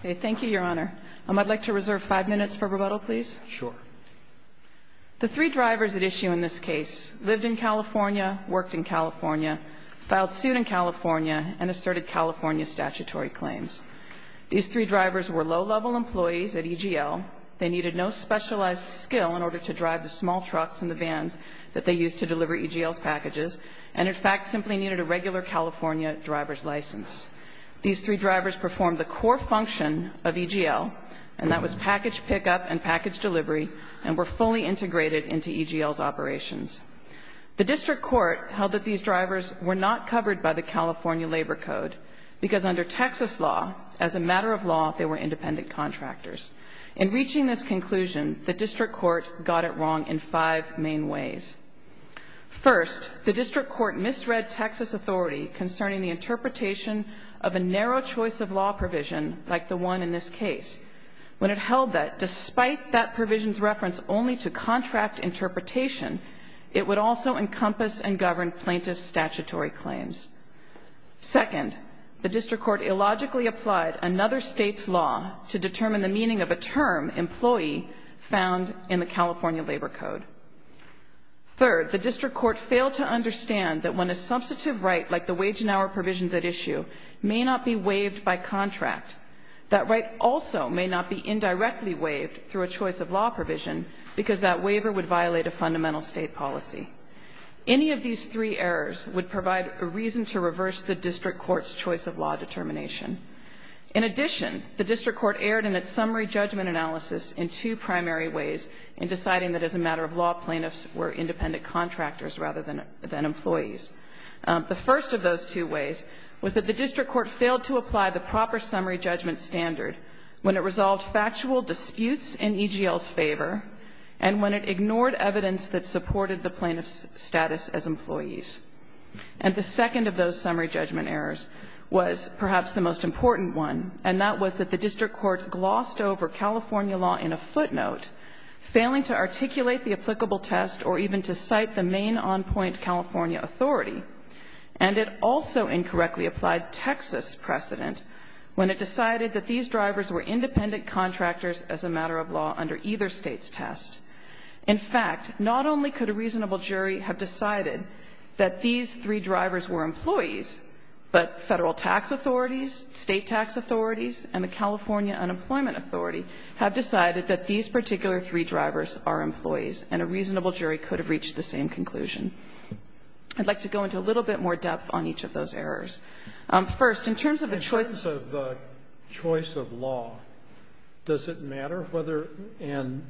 Okay. Thank you, Your Honor. I'd like to reserve five minutes for rebuttal, please. Sure. The three drivers at issue in this case lived in California, worked in California, filed suit in California, and asserted California statutory claims. These three drivers were low-level employees at EGL. They needed no specialized skill in order to drive the small trucks and the vans that they used to deliver EGL's packages, and in fact simply needed a regular California driver's license. These three drivers performed the core function of EGL, and that was package pickup and package delivery, and were fully integrated into EGL's operations. The district court held that these drivers were not covered by the California Labor Code, because under Texas law, as a matter of law, they were independent contractors. In reaching this conclusion, the district court got it wrong in five main ways. First, the district court misread Texas authority concerning the interpretation of a narrow choice of law provision, like the one in this case. When it held that, despite that provision's reference only to contract interpretation, it would also encompass and govern plaintiff's statutory claims. Second, the district court illogically applied another state's law to determine the meaning of a term, employee, found in the California Labor Code. Third, the district court failed to understand that when a substantive right, like the wage and hour provisions at issue, may not be waived by contract, that right also may not be indirectly waived through a choice of law provision, because that waiver would violate a fundamental state policy. Any of these three errors would provide a reason to reverse the district court's choice of law determination. In addition, the district court erred in its summary judgment analysis in two primary ways in deciding that, as a matter of law, plaintiffs were independent contractors rather than employees. The first of those two ways was that the district court failed to apply the proper summary judgment standard when it resolved factual disputes in EGL's favor and when it ignored evidence that supported the plaintiff's status as employees. And the second of those summary judgment errors was perhaps the most important one, and that was that the district court glossed over California law in a footnote, failing to articulate the applicable test or even to cite the main on-point California authority. And it also incorrectly applied Texas precedent when it decided that these drivers were independent contractors as a matter of law under either state's test. In fact, not only could a reasonable jury have decided that these three drivers were employees, but federal tax authorities, state tax authorities, and the California Unemployment Authority have decided that these particular three drivers are employees, and a reasonable jury could have reached the same conclusion. I'd like to go into a little bit more depth on each of those errors. First, in terms of a choice of law, does it matter whether and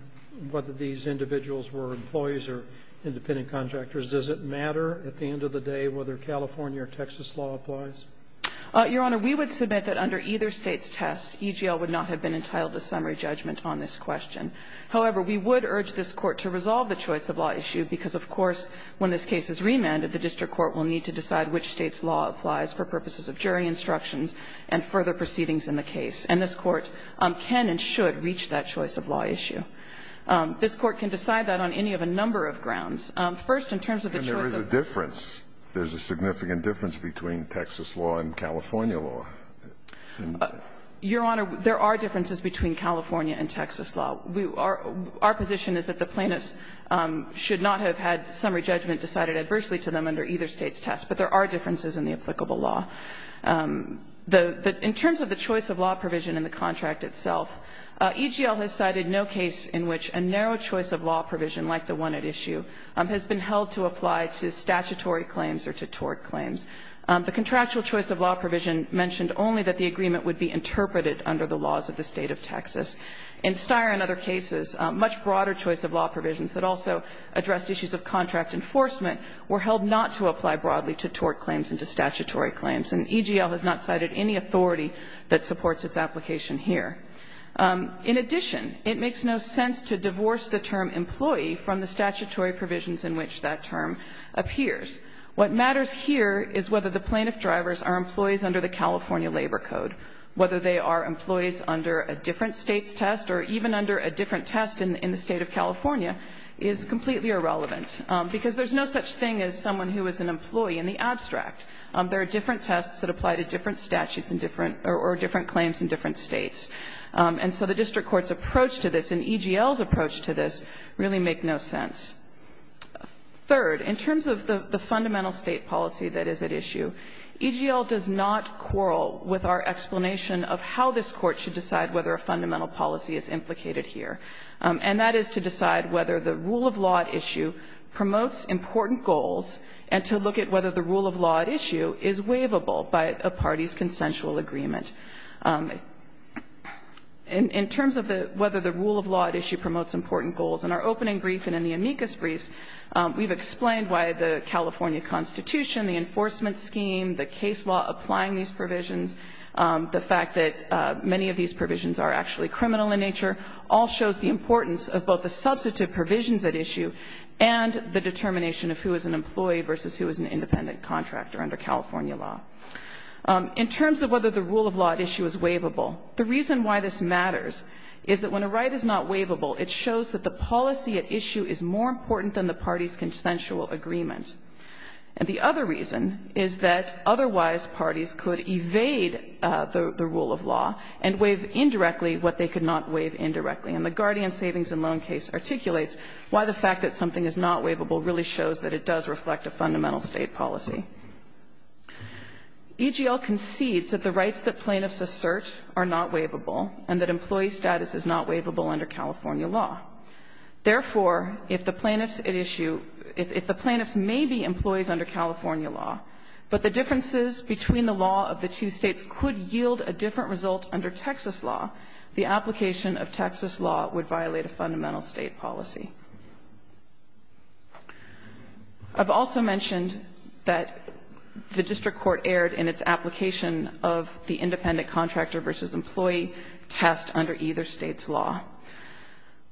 whether these individuals were employees or independent contractors, does it matter at the end of the day whether California or Texas law applies? Your Honor, we would submit that under either state's test, EGL would not have been entitled to summary judgment on this question. However, we would urge this Court to resolve the choice of law issue, because of course when this case is remanded, the district court will need to decide which state's law applies for purposes of jury instructions and further proceedings in the case. And this Court can and should reach that choice of law issue. This Court can decide that on any of a number of grounds. First, in terms of the choice of law. EGL has cited no case in which a narrow choice of law provision, like the one at issue, choice of law provision in this case is that the plaintiff should not have had summary judgment decided adversely to them under either state's test, but there are differences in the applicable law. In terms of the choice of law provision in the contract itself, EGL has cited no case in which a narrow choice of law provision, like the one at issue, has been held to apply to statutory claims or to tort claims. The contractual choice of law provision mentioned only that the agreement would be interpreted under the laws of the State of Texas. In Steyer and other cases, much broader choice of law provisions that also addressed issues of contract enforcement were held not to apply broadly to tort claims and to statutory claims. And EGL has not cited any authority that supports its application here. In addition, it makes no sense to divorce the term employee from the statutory provisions in which that term appears. What matters here is whether the plaintiff drivers are employees under the California Labor Code. Whether they are employees under a different State's test or even under a different test in the State of California is completely irrelevant, because there's no such thing as someone who is an employee in the abstract. There are different tests that apply to different statutes in different or different claims in different States. And so the district court's approach to this and EGL's approach to this really make no sense. Third, in terms of the fundamental State policy that is at issue, EGL does not quarrel with our explanation of how this Court should decide whether a fundamental policy is implicated here, and that is to decide whether the rule of law at issue promotes important goals and to look at whether the rule of law at issue is a fundamental issue is waivable by a party's consensual agreement. In terms of whether the rule of law at issue promotes important goals, in our opening brief and in the amicus briefs, we've explained why the California Constitution, the enforcement scheme, the case law applying these provisions, the fact that many of these provisions are actually criminal in nature, all shows the importance of both the substantive provisions at issue and the determination of who is an employee versus who is an independent contractor under California law. In terms of whether the rule of law at issue is waivable, the reason why this matters is that when a right is not waivable, it shows that the policy at issue is more important than the party's consensual agreement. And the other reason is that otherwise parties could evade the rule of law and waive indirectly what they could not waive indirectly. And the Guardian Savings and Loan case articulates why the fact that something is not waivable really shows that it does reflect a fundamental State policy. EGL concedes that the rights that plaintiffs assert are not waivable and that employee status is not waivable under California law. Therefore, if the plaintiffs at issue – if the plaintiffs may be employees under California law, but the differences between the law of the two States could yield a different result under Texas law, the application of Texas law would violate a fundamental State policy. I've also mentioned that the district court erred in its application of the independent contractor versus employee test under either State's law.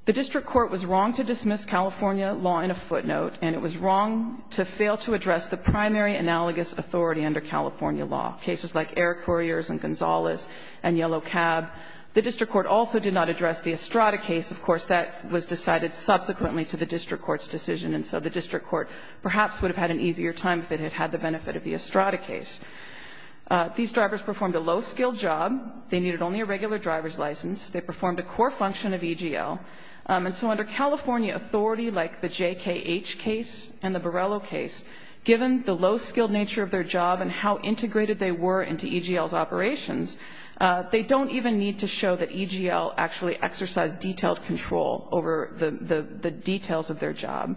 The district court was wrong to dismiss California law in a footnote, and it was wrong to fail to address the primary analogous authority under California law, cases like Air Couriers and Gonzales and Yellow Cab. The district court also did not address the Estrada case. Of course, that was decided subsequently to the district court's decision, and so the district court perhaps would have had an easier time if it had had the benefit of the Estrada case. These drivers performed a low-skilled job. They needed only a regular driver's license. They performed a core function of EGL. And so under California authority, like the JKH case and the Borrello case, given the low-skilled nature of their job and how integrated they were into EGL's operations, they don't even need to show that EGL actually exercised detailed control over the details of their job.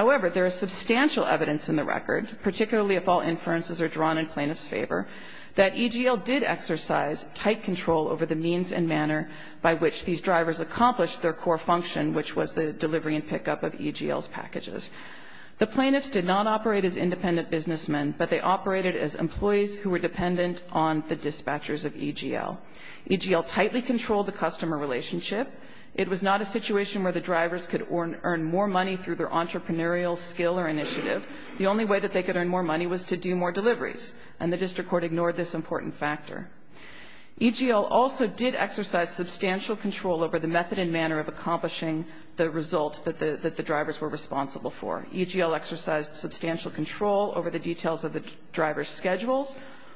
However, there is substantial evidence in the record, particularly if all inferences are drawn in plaintiff's favor, that EGL did exercise tight control over the means and manner by which these drivers accomplished their core function, which was the delivery and pickup of EGL's packages. The plaintiffs did not operate as independent businessmen, but they operated as employees who were dependent on the dispatchers of EGL. EGL tightly controlled the customer relationship. It was not a situation where the drivers could earn more money through their entrepreneurial skill or initiative. The only way that they could earn more money was to do more deliveries, and the district court ignored this important factor. EGL also did exercise substantial control over the method and manner of accomplishing the results that the drivers were responsible for. EGL exercised substantial control over the details of the drivers' schedules,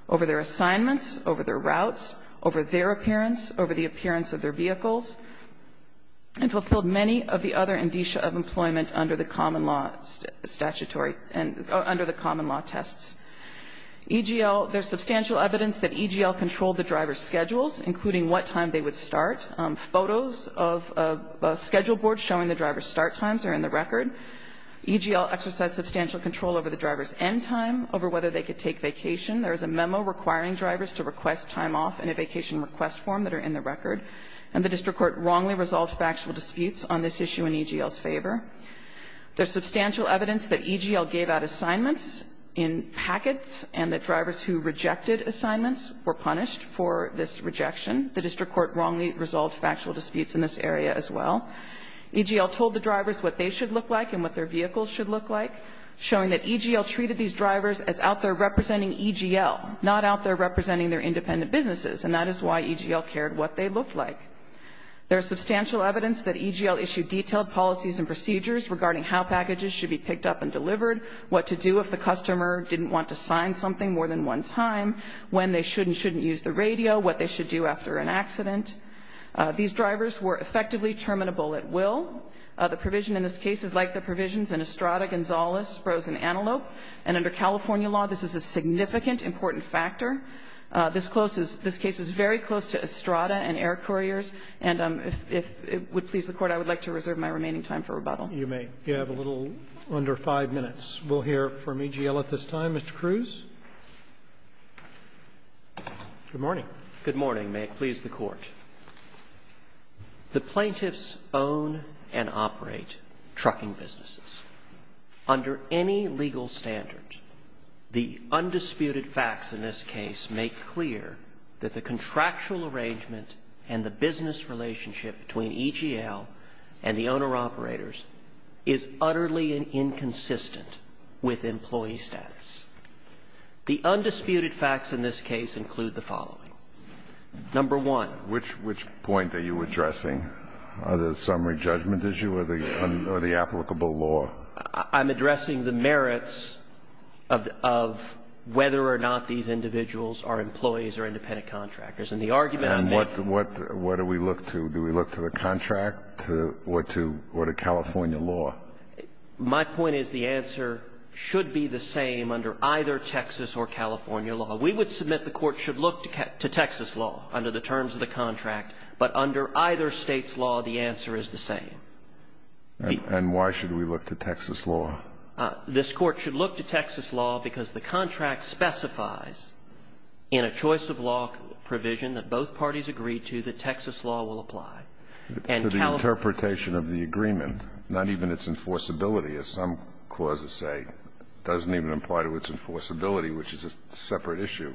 over their assignments, over their routes, over their appearance, over the appearance of their vehicles, and fulfilled many of the other indicia of employment under the common law statutory and under the common law tests. EGL, there's substantial evidence that EGL controlled the drivers' schedules, including what time they would start. Photos of a schedule board showing the drivers' start times are in the record. EGL exercised substantial control over the drivers' end time, over whether they could take vacation. There is a memo requiring drivers to request time off in a vacation request form that are in the record. And the district court wrongly resolved factual disputes on this issue in EGL's favor. There's substantial evidence that EGL gave out assignments in packets and that drivers who rejected assignments were punished for this rejection. The district court wrongly resolved factual disputes in this area as well. EGL told the drivers what they should look like and what their vehicles should look like, showing that EGL treated these drivers as out there representing EGL, not out there representing their independent businesses. And that is why EGL cared what they looked like. There is substantial evidence that EGL issued detailed policies and procedures regarding how packages should be picked up and delivered, what to do if the customer didn't want to sign something more than one time, when they should and shouldn't use the radio, what they should do after an accident. These drivers were effectively terminable at will. The provision in this case is like the provisions in Estrada, Gonzales, Sprose and Antelope. And under California law, this is a significant, important factor. This case is very close to Estrada and Air Couriers. And if it would please the Court, I would like to reserve my remaining time for rebuttal. Roberts. You may. You have a little under five minutes. We'll hear from EGL at this time. Mr. Cruz. Good morning. Good morning. May it please the Court. The plaintiffs own and operate trucking businesses. Under any legal standard, the undisputed facts in this case make clear that the contractual arrangement and the business relationship between EGL and the owner-operators is utterly inconsistent with employee status. The undisputed facts in this case include the following. Number one. Which point are you addressing? Are there summary judgment issues or the applicable law? I'm addressing the merits of whether or not these individuals are employees or independent contractors. And the argument I'm making And what do we look to? Do we look to the contract or to California law? My point is the answer should be the same under either Texas or California law. We would submit the Court should look to Texas law under the terms of the contract. But under either State's law, the answer is the same. And why should we look to Texas law? This Court should look to Texas law because the contract specifies in a choice-of-law provision that both parties agree to that Texas law will apply. To the interpretation of the agreement, not even its enforceability, as some clauses say, doesn't even apply to its enforceability, which is a separate issue.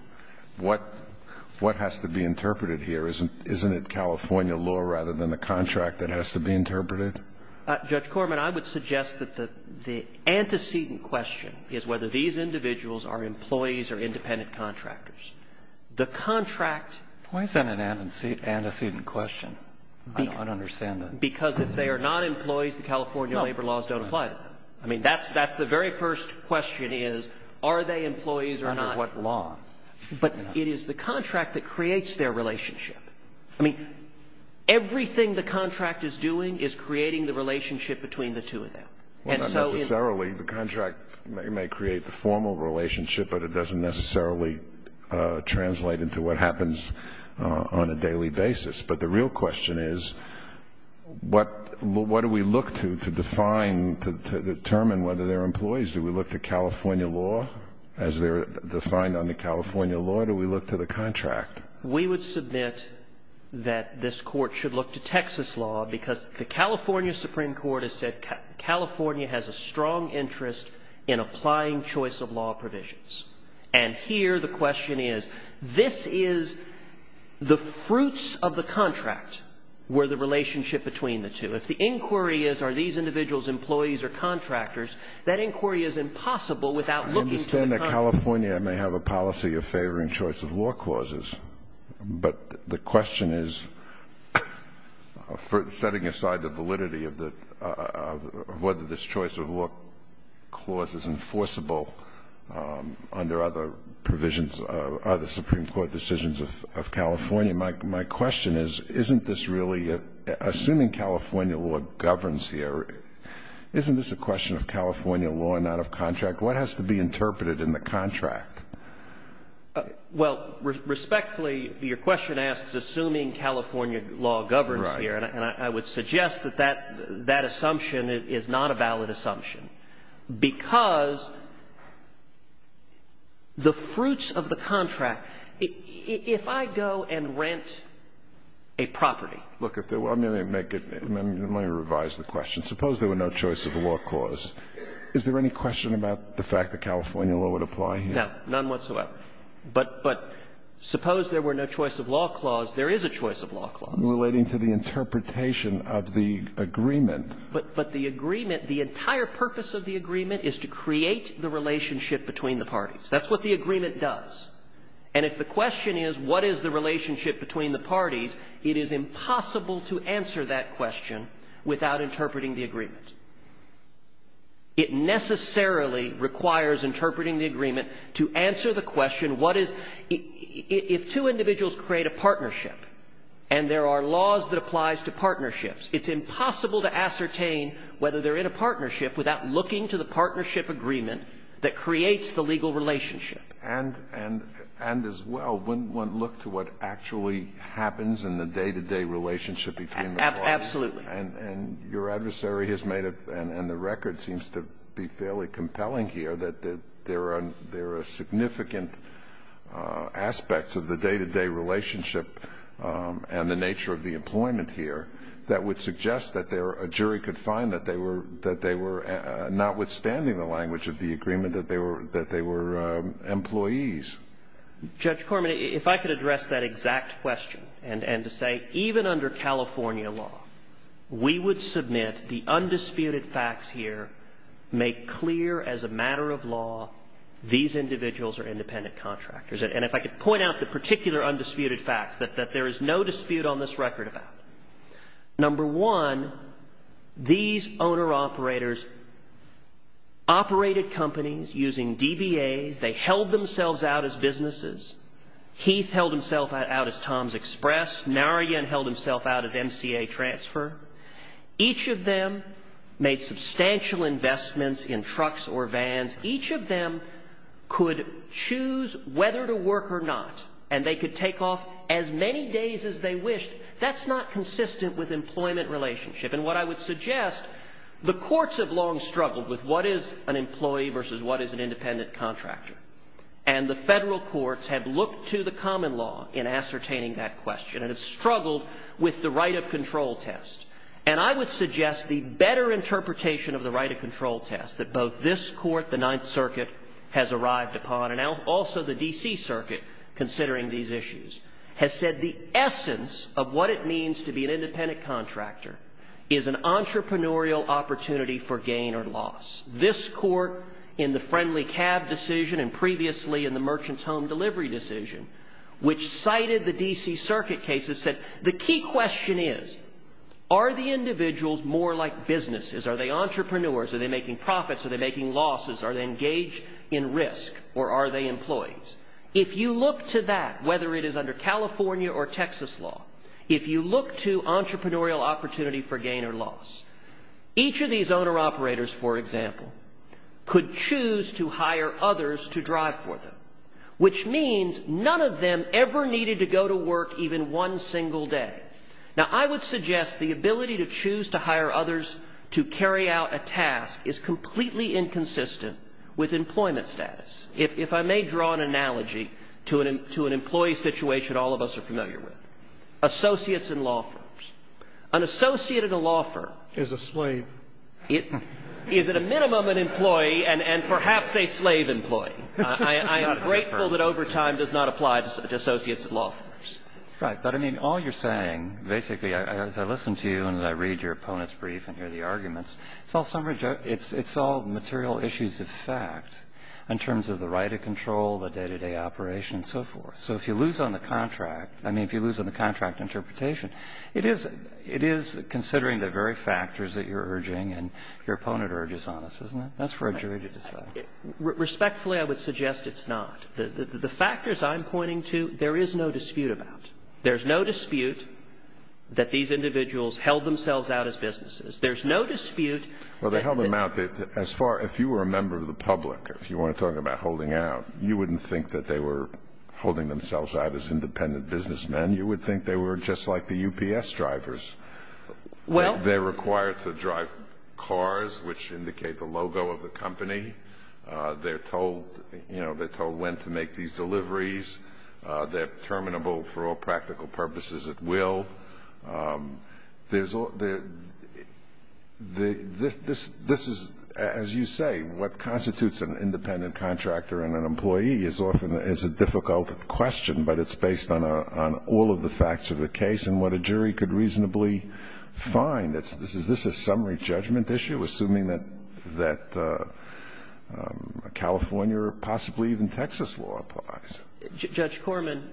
What has to be interpreted here? Isn't it California law rather than the contract that has to be interpreted? Judge Corman, I would suggest that the antecedent question is whether these individuals are employees or independent contractors. The contract Why is that an antecedent question? I don't understand that. Because if they are not employees, the California labor laws don't apply. I mean, that's the very first question is, are they employees or not? Under what law? But it is the contract that creates their relationship. I mean, everything the contract is doing is creating the relationship between the two of them. And so in Not necessarily. The contract may create the formal relationship, but it doesn't necessarily translate into what happens on a daily basis. But the real question is, what do we look to to define, to determine whether they're employees? Do we look to California law as they're defined under California law? Or do we look to the contract? We would submit that this Court should look to Texas law, because the California Supreme Court has said California has a strong interest in applying choice of law provisions. And here the question is, this is the fruits of the contract were the relationship between the two. If the inquiry is, are these individuals employees or contractors, that inquiry is impossible without looking to the contract. I understand that California may have a policy of favoring choice of law clauses. But the question is, setting aside the validity of whether this choice of law clause is enforceable under other provisions, other Supreme Court decisions of California, my question is, isn't this really, assuming California law governs here, isn't this a question of California law and not of contract? What has to be interpreted in the contract? Well, respectfully, your question asks, assuming California law governs here. And I would suggest that that assumption is not a valid assumption. Because the fruits of the contract, if I go and rent a property. Look, if there were, let me make it, let me revise the question. Suppose there were no choice of law clause. Is there any question about the fact that California law would apply here? No, none whatsoever. But suppose there were no choice of law clause. There is a choice of law clause. Relating to the interpretation of the agreement. But the agreement, the entire purpose of the agreement is to create the relationship between the parties. That's what the agreement does. And if the question is, what is the relationship between the parties, it is impossible to answer that question without interpreting the agreement. It necessarily requires interpreting the agreement to answer the question, what is the – if two individuals create a partnership, and there are laws that applies to partnerships, it's impossible to ascertain whether they're in a partnership without looking to the partnership agreement that creates the legal relationship. And as well, one looks to what actually happens in the day-to-day relationship between the parties. Absolutely. And your adversary has made it, and the record seems to be fairly compelling here, that there are significant aspects of the day-to-day relationship and the nature of the employment here that would suggest that a jury could find that they were notwithstanding the language of the agreement, that they were employees. Judge Corman, if I could address that exact question and to say, even under California law, we would submit the undisputed facts here, make clear as a matter of law these individuals are independent contractors. And if I could point out the particular undisputed facts that there is no dispute on this record about. Number one, these owner-operators operated companies using DBAs. They held themselves out as businesses. Heath held himself out as Tom's Express. Narayan held himself out as MCA Transfer. Each of them made substantial investments in trucks or vans. Each of them could choose whether to work or not, and they could take off as many days as they wished. That's not consistent with employment relationship. And what I would suggest, the courts have long struggled with what is an employee versus what is an independent contractor. And the federal courts have looked to the common law in ascertaining that question and have struggled with the right of control test. And I would suggest the better interpretation of the right of control test that both this court, the Ninth Circuit, has arrived upon, and also the D.C. Circuit, considering these issues, has said the essence of what it means to be an independent contractor is an entrepreneurial opportunity for gain or loss. This court, in the Friendly Cab decision and previously in the Merchant's Home Delivery decision, which cited the D.C. Circuit cases, said the key question is, are the individuals more like businesses? Are they entrepreneurs? Are they making profits? Are they making losses? Are they engaged in risk? Or are they employees? If you look to that, whether it is under California or Texas law, if you look to entrepreneurial opportunity for gain or loss, each of these owner-operators, for example, could choose to hire others to drive for them, which means none of them ever needed to go to work even one single day. Now, I would suggest the ability to choose to hire others to carry out a task is completely inconsistent with employment status. If I may draw an analogy to an employee situation all of us are familiar with. Associates in law firms. An associate in a law firm is a slave. Is at a minimum an employee and perhaps a slave employee. I am grateful that over time does not apply to associates in law firms. Right. But, I mean, all you're saying, basically, as I listen to you and as I read your opponents' brief and hear the arguments, it's all material issues of fact in terms of the right of control, the day-to-day operation, and so forth. So if you lose on the contract, I mean, if you lose on the contract interpretation, it is considering the very factors that you're urging and your opponent urges on us, isn't it? That's for a jury to decide. Respectfully, I would suggest it's not. The factors I'm pointing to, there is no dispute about. There's no dispute that these individuals held themselves out as businesses. There's no dispute that- Well, they held them out as far, if you were a member of the public, if you want to talk about holding out, you wouldn't think that they were holding themselves out as independent businessmen. You would think they were just like the UPS drivers. Well- They're required to drive cars, which indicate the logo of the company. They're told, you know, they're told when to make these deliveries. They're terminable for all practical purposes at will. There's all- This is, as you say, what constitutes an independent contractor and an employee is often a difficult question, but it's based on all of the facts of the case and what a jury could reasonably find. Is this a summary judgment issue, assuming that California or possibly even Texas law applies? Judge Corman,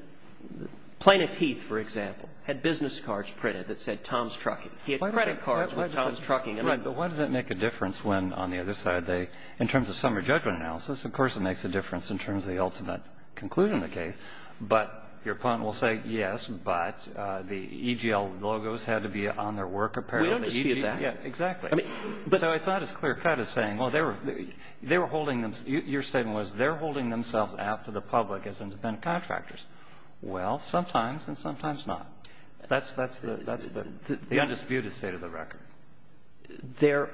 Plaintiff Heath, for example, had business cards printed that said Tom's Trucking. He had credit cards with Tom's Trucking. Right. But why does that make a difference when, on the other side, they, in terms of summary judgment analysis, of course, it makes a difference in terms of the ultimate concluding the case, but your point will say, yes, but the EGL logos had to be on their work apparel. We don't dispute that. Yeah, exactly. So it's not as clear-cut as saying, well, they were holding them, your statement was, they're holding themselves apt to the public as independent contractors. Well, sometimes and sometimes not. That's the undisputed state of the record. There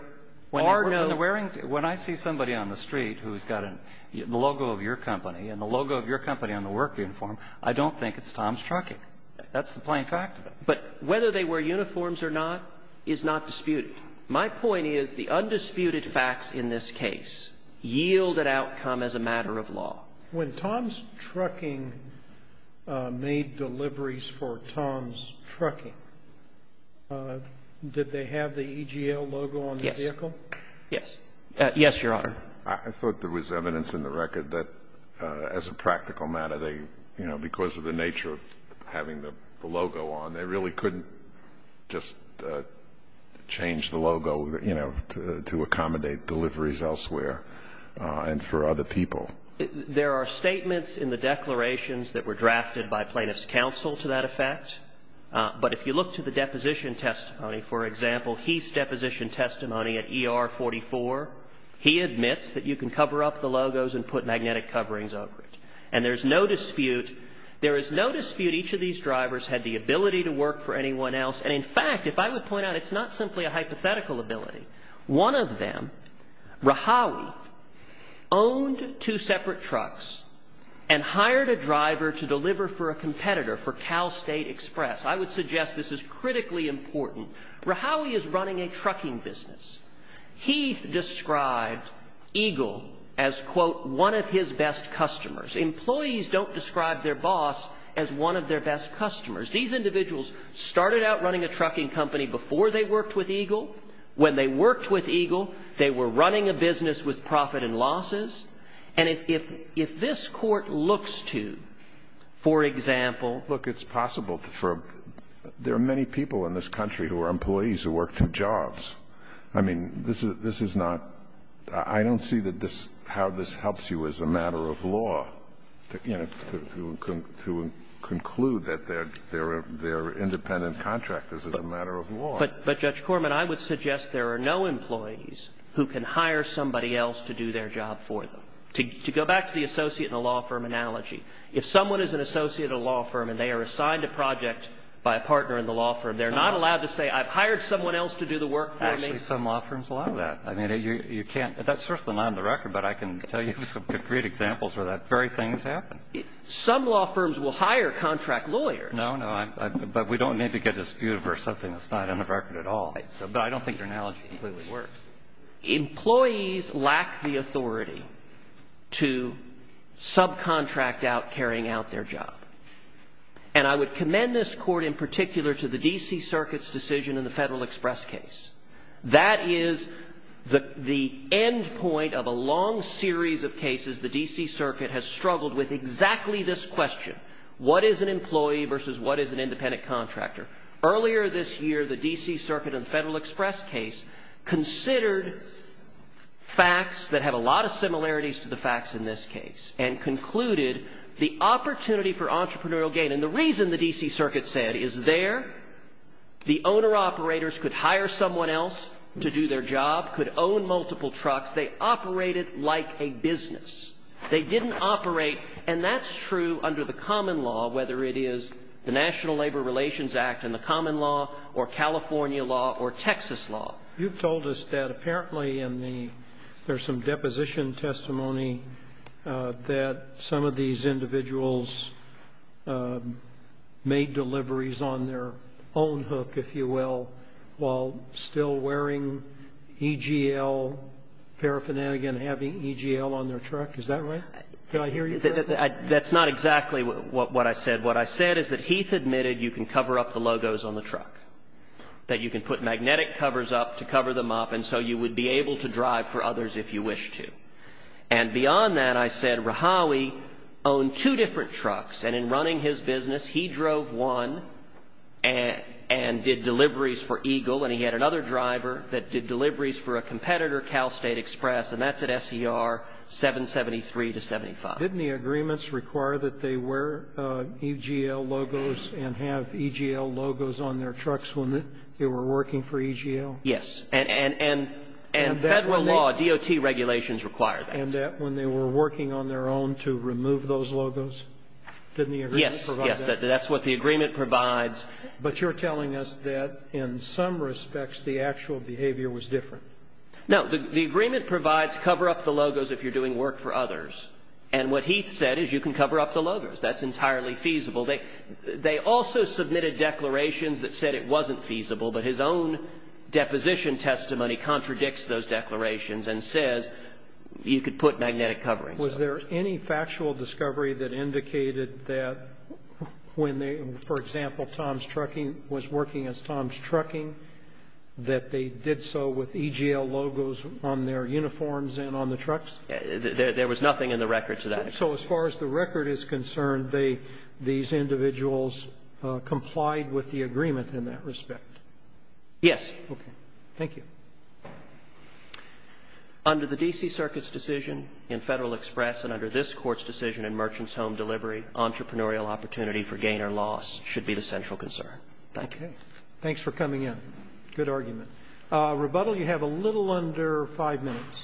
are no- When I see somebody on the street who's got the logo of your company and the logo of your company on the work uniform, I don't think it's Tom's Trucking. That's the plain fact of it. But whether they wear uniforms or not is not disputed. My point is the undisputed facts in this case yield an outcome as a matter of law. When Tom's Trucking made deliveries for Tom's Trucking, did they have the EGL logo on the vehicle? Yes. Yes. Yes, Your Honor. I thought there was evidence in the record that, as a practical matter, they, you know, could just change the logo, you know, to accommodate deliveries elsewhere and for other people. There are statements in the declarations that were drafted by plaintiff's counsel to that effect, but if you look to the deposition testimony, for example, he's deposition testimony at ER 44, he admits that you can cover up the logos and put magnetic coverings over it. And there's no dispute, there is no dispute each of these drivers had the ability to work for anyone else. And in fact, if I would point out, it's not simply a hypothetical ability. One of them, Rahawi, owned two separate trucks and hired a driver to deliver for a competitor for Cal State Express. I would suggest this is critically important. Rahawi is running a trucking business. He described EGL as, quote, one of his best customers. Employees don't describe their boss as one of their best customers. These individuals started out running a trucking company before they worked with EGL. When they worked with EGL, they were running a business with profit and losses. And if this Court looks to, for example ---- Kennedy. Look, it's possible for ---- there are many people in this country who are employees who work through jobs. I mean, this is not ---- I don't see that this ---- how this helps you as a matter of law. But, Judge Corman, I would suggest there are no employees who can hire somebody else to do their job for them. To go back to the associate in a law firm analogy, if someone is an associate in a law firm and they are assigned a project by a partner in the law firm, they're not allowed to say, I've hired someone else to do the work for me. Actually, some law firms allow that. I mean, you can't ---- that's certainly not on the record, but I can tell you some concrete examples where that very thing has happened. Some law firms will hire contract lawyers. No, no. But we don't need to get disputed for something that's not on the record at all. But I don't think your analogy completely works. Employees lack the authority to subcontract out carrying out their job. And I would commend this Court in particular to the D.C. Circuit's decision in the Federal Express case. That is the end point of a long series of cases the D.C. Circuit has struggled with exactly this question. What is an employee versus what is an independent contractor? Earlier this year, the D.C. Circuit in the Federal Express case considered facts that have a lot of similarities to the facts in this case and concluded the opportunity for entrepreneurial gain. And the reason the D.C. Circuit said is there the owner-operators could hire someone else to do their job, could own multiple trucks. They operated like a business. They didn't operate. And that's true under the common law, whether it is the National Labor Relations Act and the common law or California law or Texas law. You've told us that apparently in the – there's some deposition testimony that some of these individuals made deliveries on their own hook, if you will, while still wearing EGL paraphernalia and having EGL on their truck. Is that right? Can I hear you? That's not exactly what I said. What I said is that Heath admitted you can cover up the logos on the truck, that you can put magnetic covers up to cover them up, and so you would be able to drive for others if you wish to. And beyond that, I said Rahawi owned two different trucks. And in running his business, he drove one and did deliveries for EGL. And he had another driver that did deliveries for a competitor, Cal State Express. And that's at SER 773 to 75. Didn't the agreements require that they wear EGL logos and have EGL logos on their trucks when they were working for EGL? Yes. And federal law, DOT regulations require that. And that when they were working on their own to remove those logos? Didn't the agreement provide that? Yes. That's what the agreement provides. But you're telling us that in some respects the actual behavior was different. No. The agreement provides cover up the logos if you're doing work for others. And what Heath said is you can cover up the logos. That's entirely feasible. They also submitted declarations that said it wasn't feasible. But his own deposition testimony contradicts those declarations and says you could put magnetic coverings up. Was there any factual discovery that indicated that when they, for example, Tom's Trucking was working as Tom's Trucking, that they did so with EGL logos on their uniforms and on the trucks? There was nothing in the record to that. So as far as the record is concerned, these individuals complied with the agreement in that respect? Yes. Okay. Thank you. Under the D.C. Circuit's decision in Federal Express and under this Court's decision in Merchant's Home Delivery, entrepreneurial opportunity for gain or loss should be the central concern. Okay. Thanks for coming in. Good argument. Rebuttal, you have a little under five minutes.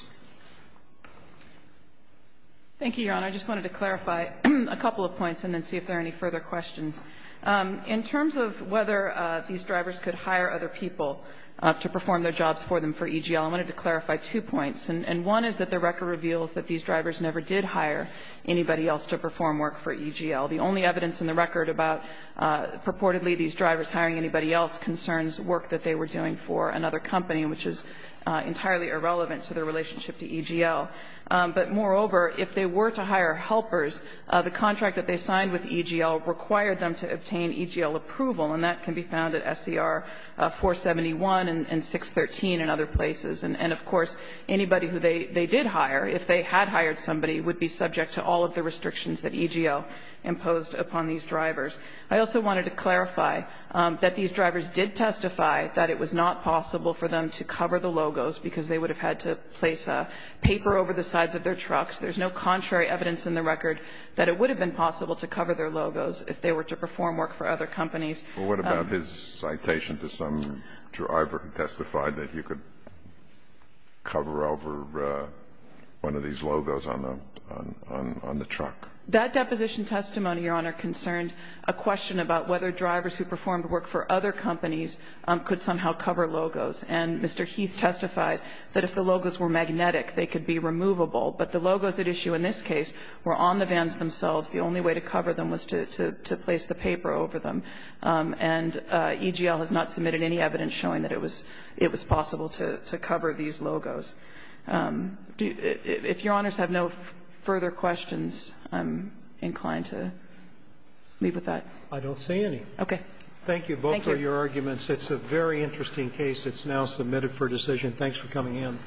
Thank you, Your Honor. I just wanted to clarify a couple of points and then see if there are any further questions. In terms of whether these drivers could hire other people to perform their jobs for them for EGL, I wanted to clarify two points. And one is that the record reveals that these drivers never did hire anybody else to perform work for EGL. The only evidence in the record about purportedly these drivers hiring anybody else concerns work that they were doing for another company, which is entirely irrelevant to their relationship to EGL. But moreover, if they were to hire helpers, the contract that they signed with EGL required them to obtain EGL approval. And that can be found at SCR 471 and 613 and other places. And of course, anybody who they did hire, if they had hired somebody, would be subject to all of the restrictions that EGL imposed upon these drivers. I also wanted to clarify that these drivers did testify that it was not possible for them to cover the logos because they would have had to place a paper over the sides of their trucks. There's no contrary evidence in the record that it would have been possible to cover their logos if they were to perform work for other companies. But what about his citation to some driver who testified that you could cover over one of these logos on the truck? That deposition testimony, Your Honor, concerned a question about whether drivers who performed work for other companies could somehow cover logos. And Mr. Heath testified that if the logos were magnetic, they could be removable. But the logos at issue in this case were on the vans themselves. The only way to cover them was to place the paper over them. And EGL has not submitted any evidence showing that it was possible to cover these logos. If Your Honors have no further questions, I'm inclined to leave with that. I don't see any. Okay. Thank you both for your arguments. It's a very interesting case. It's now submitted for decision. Thanks for coming in.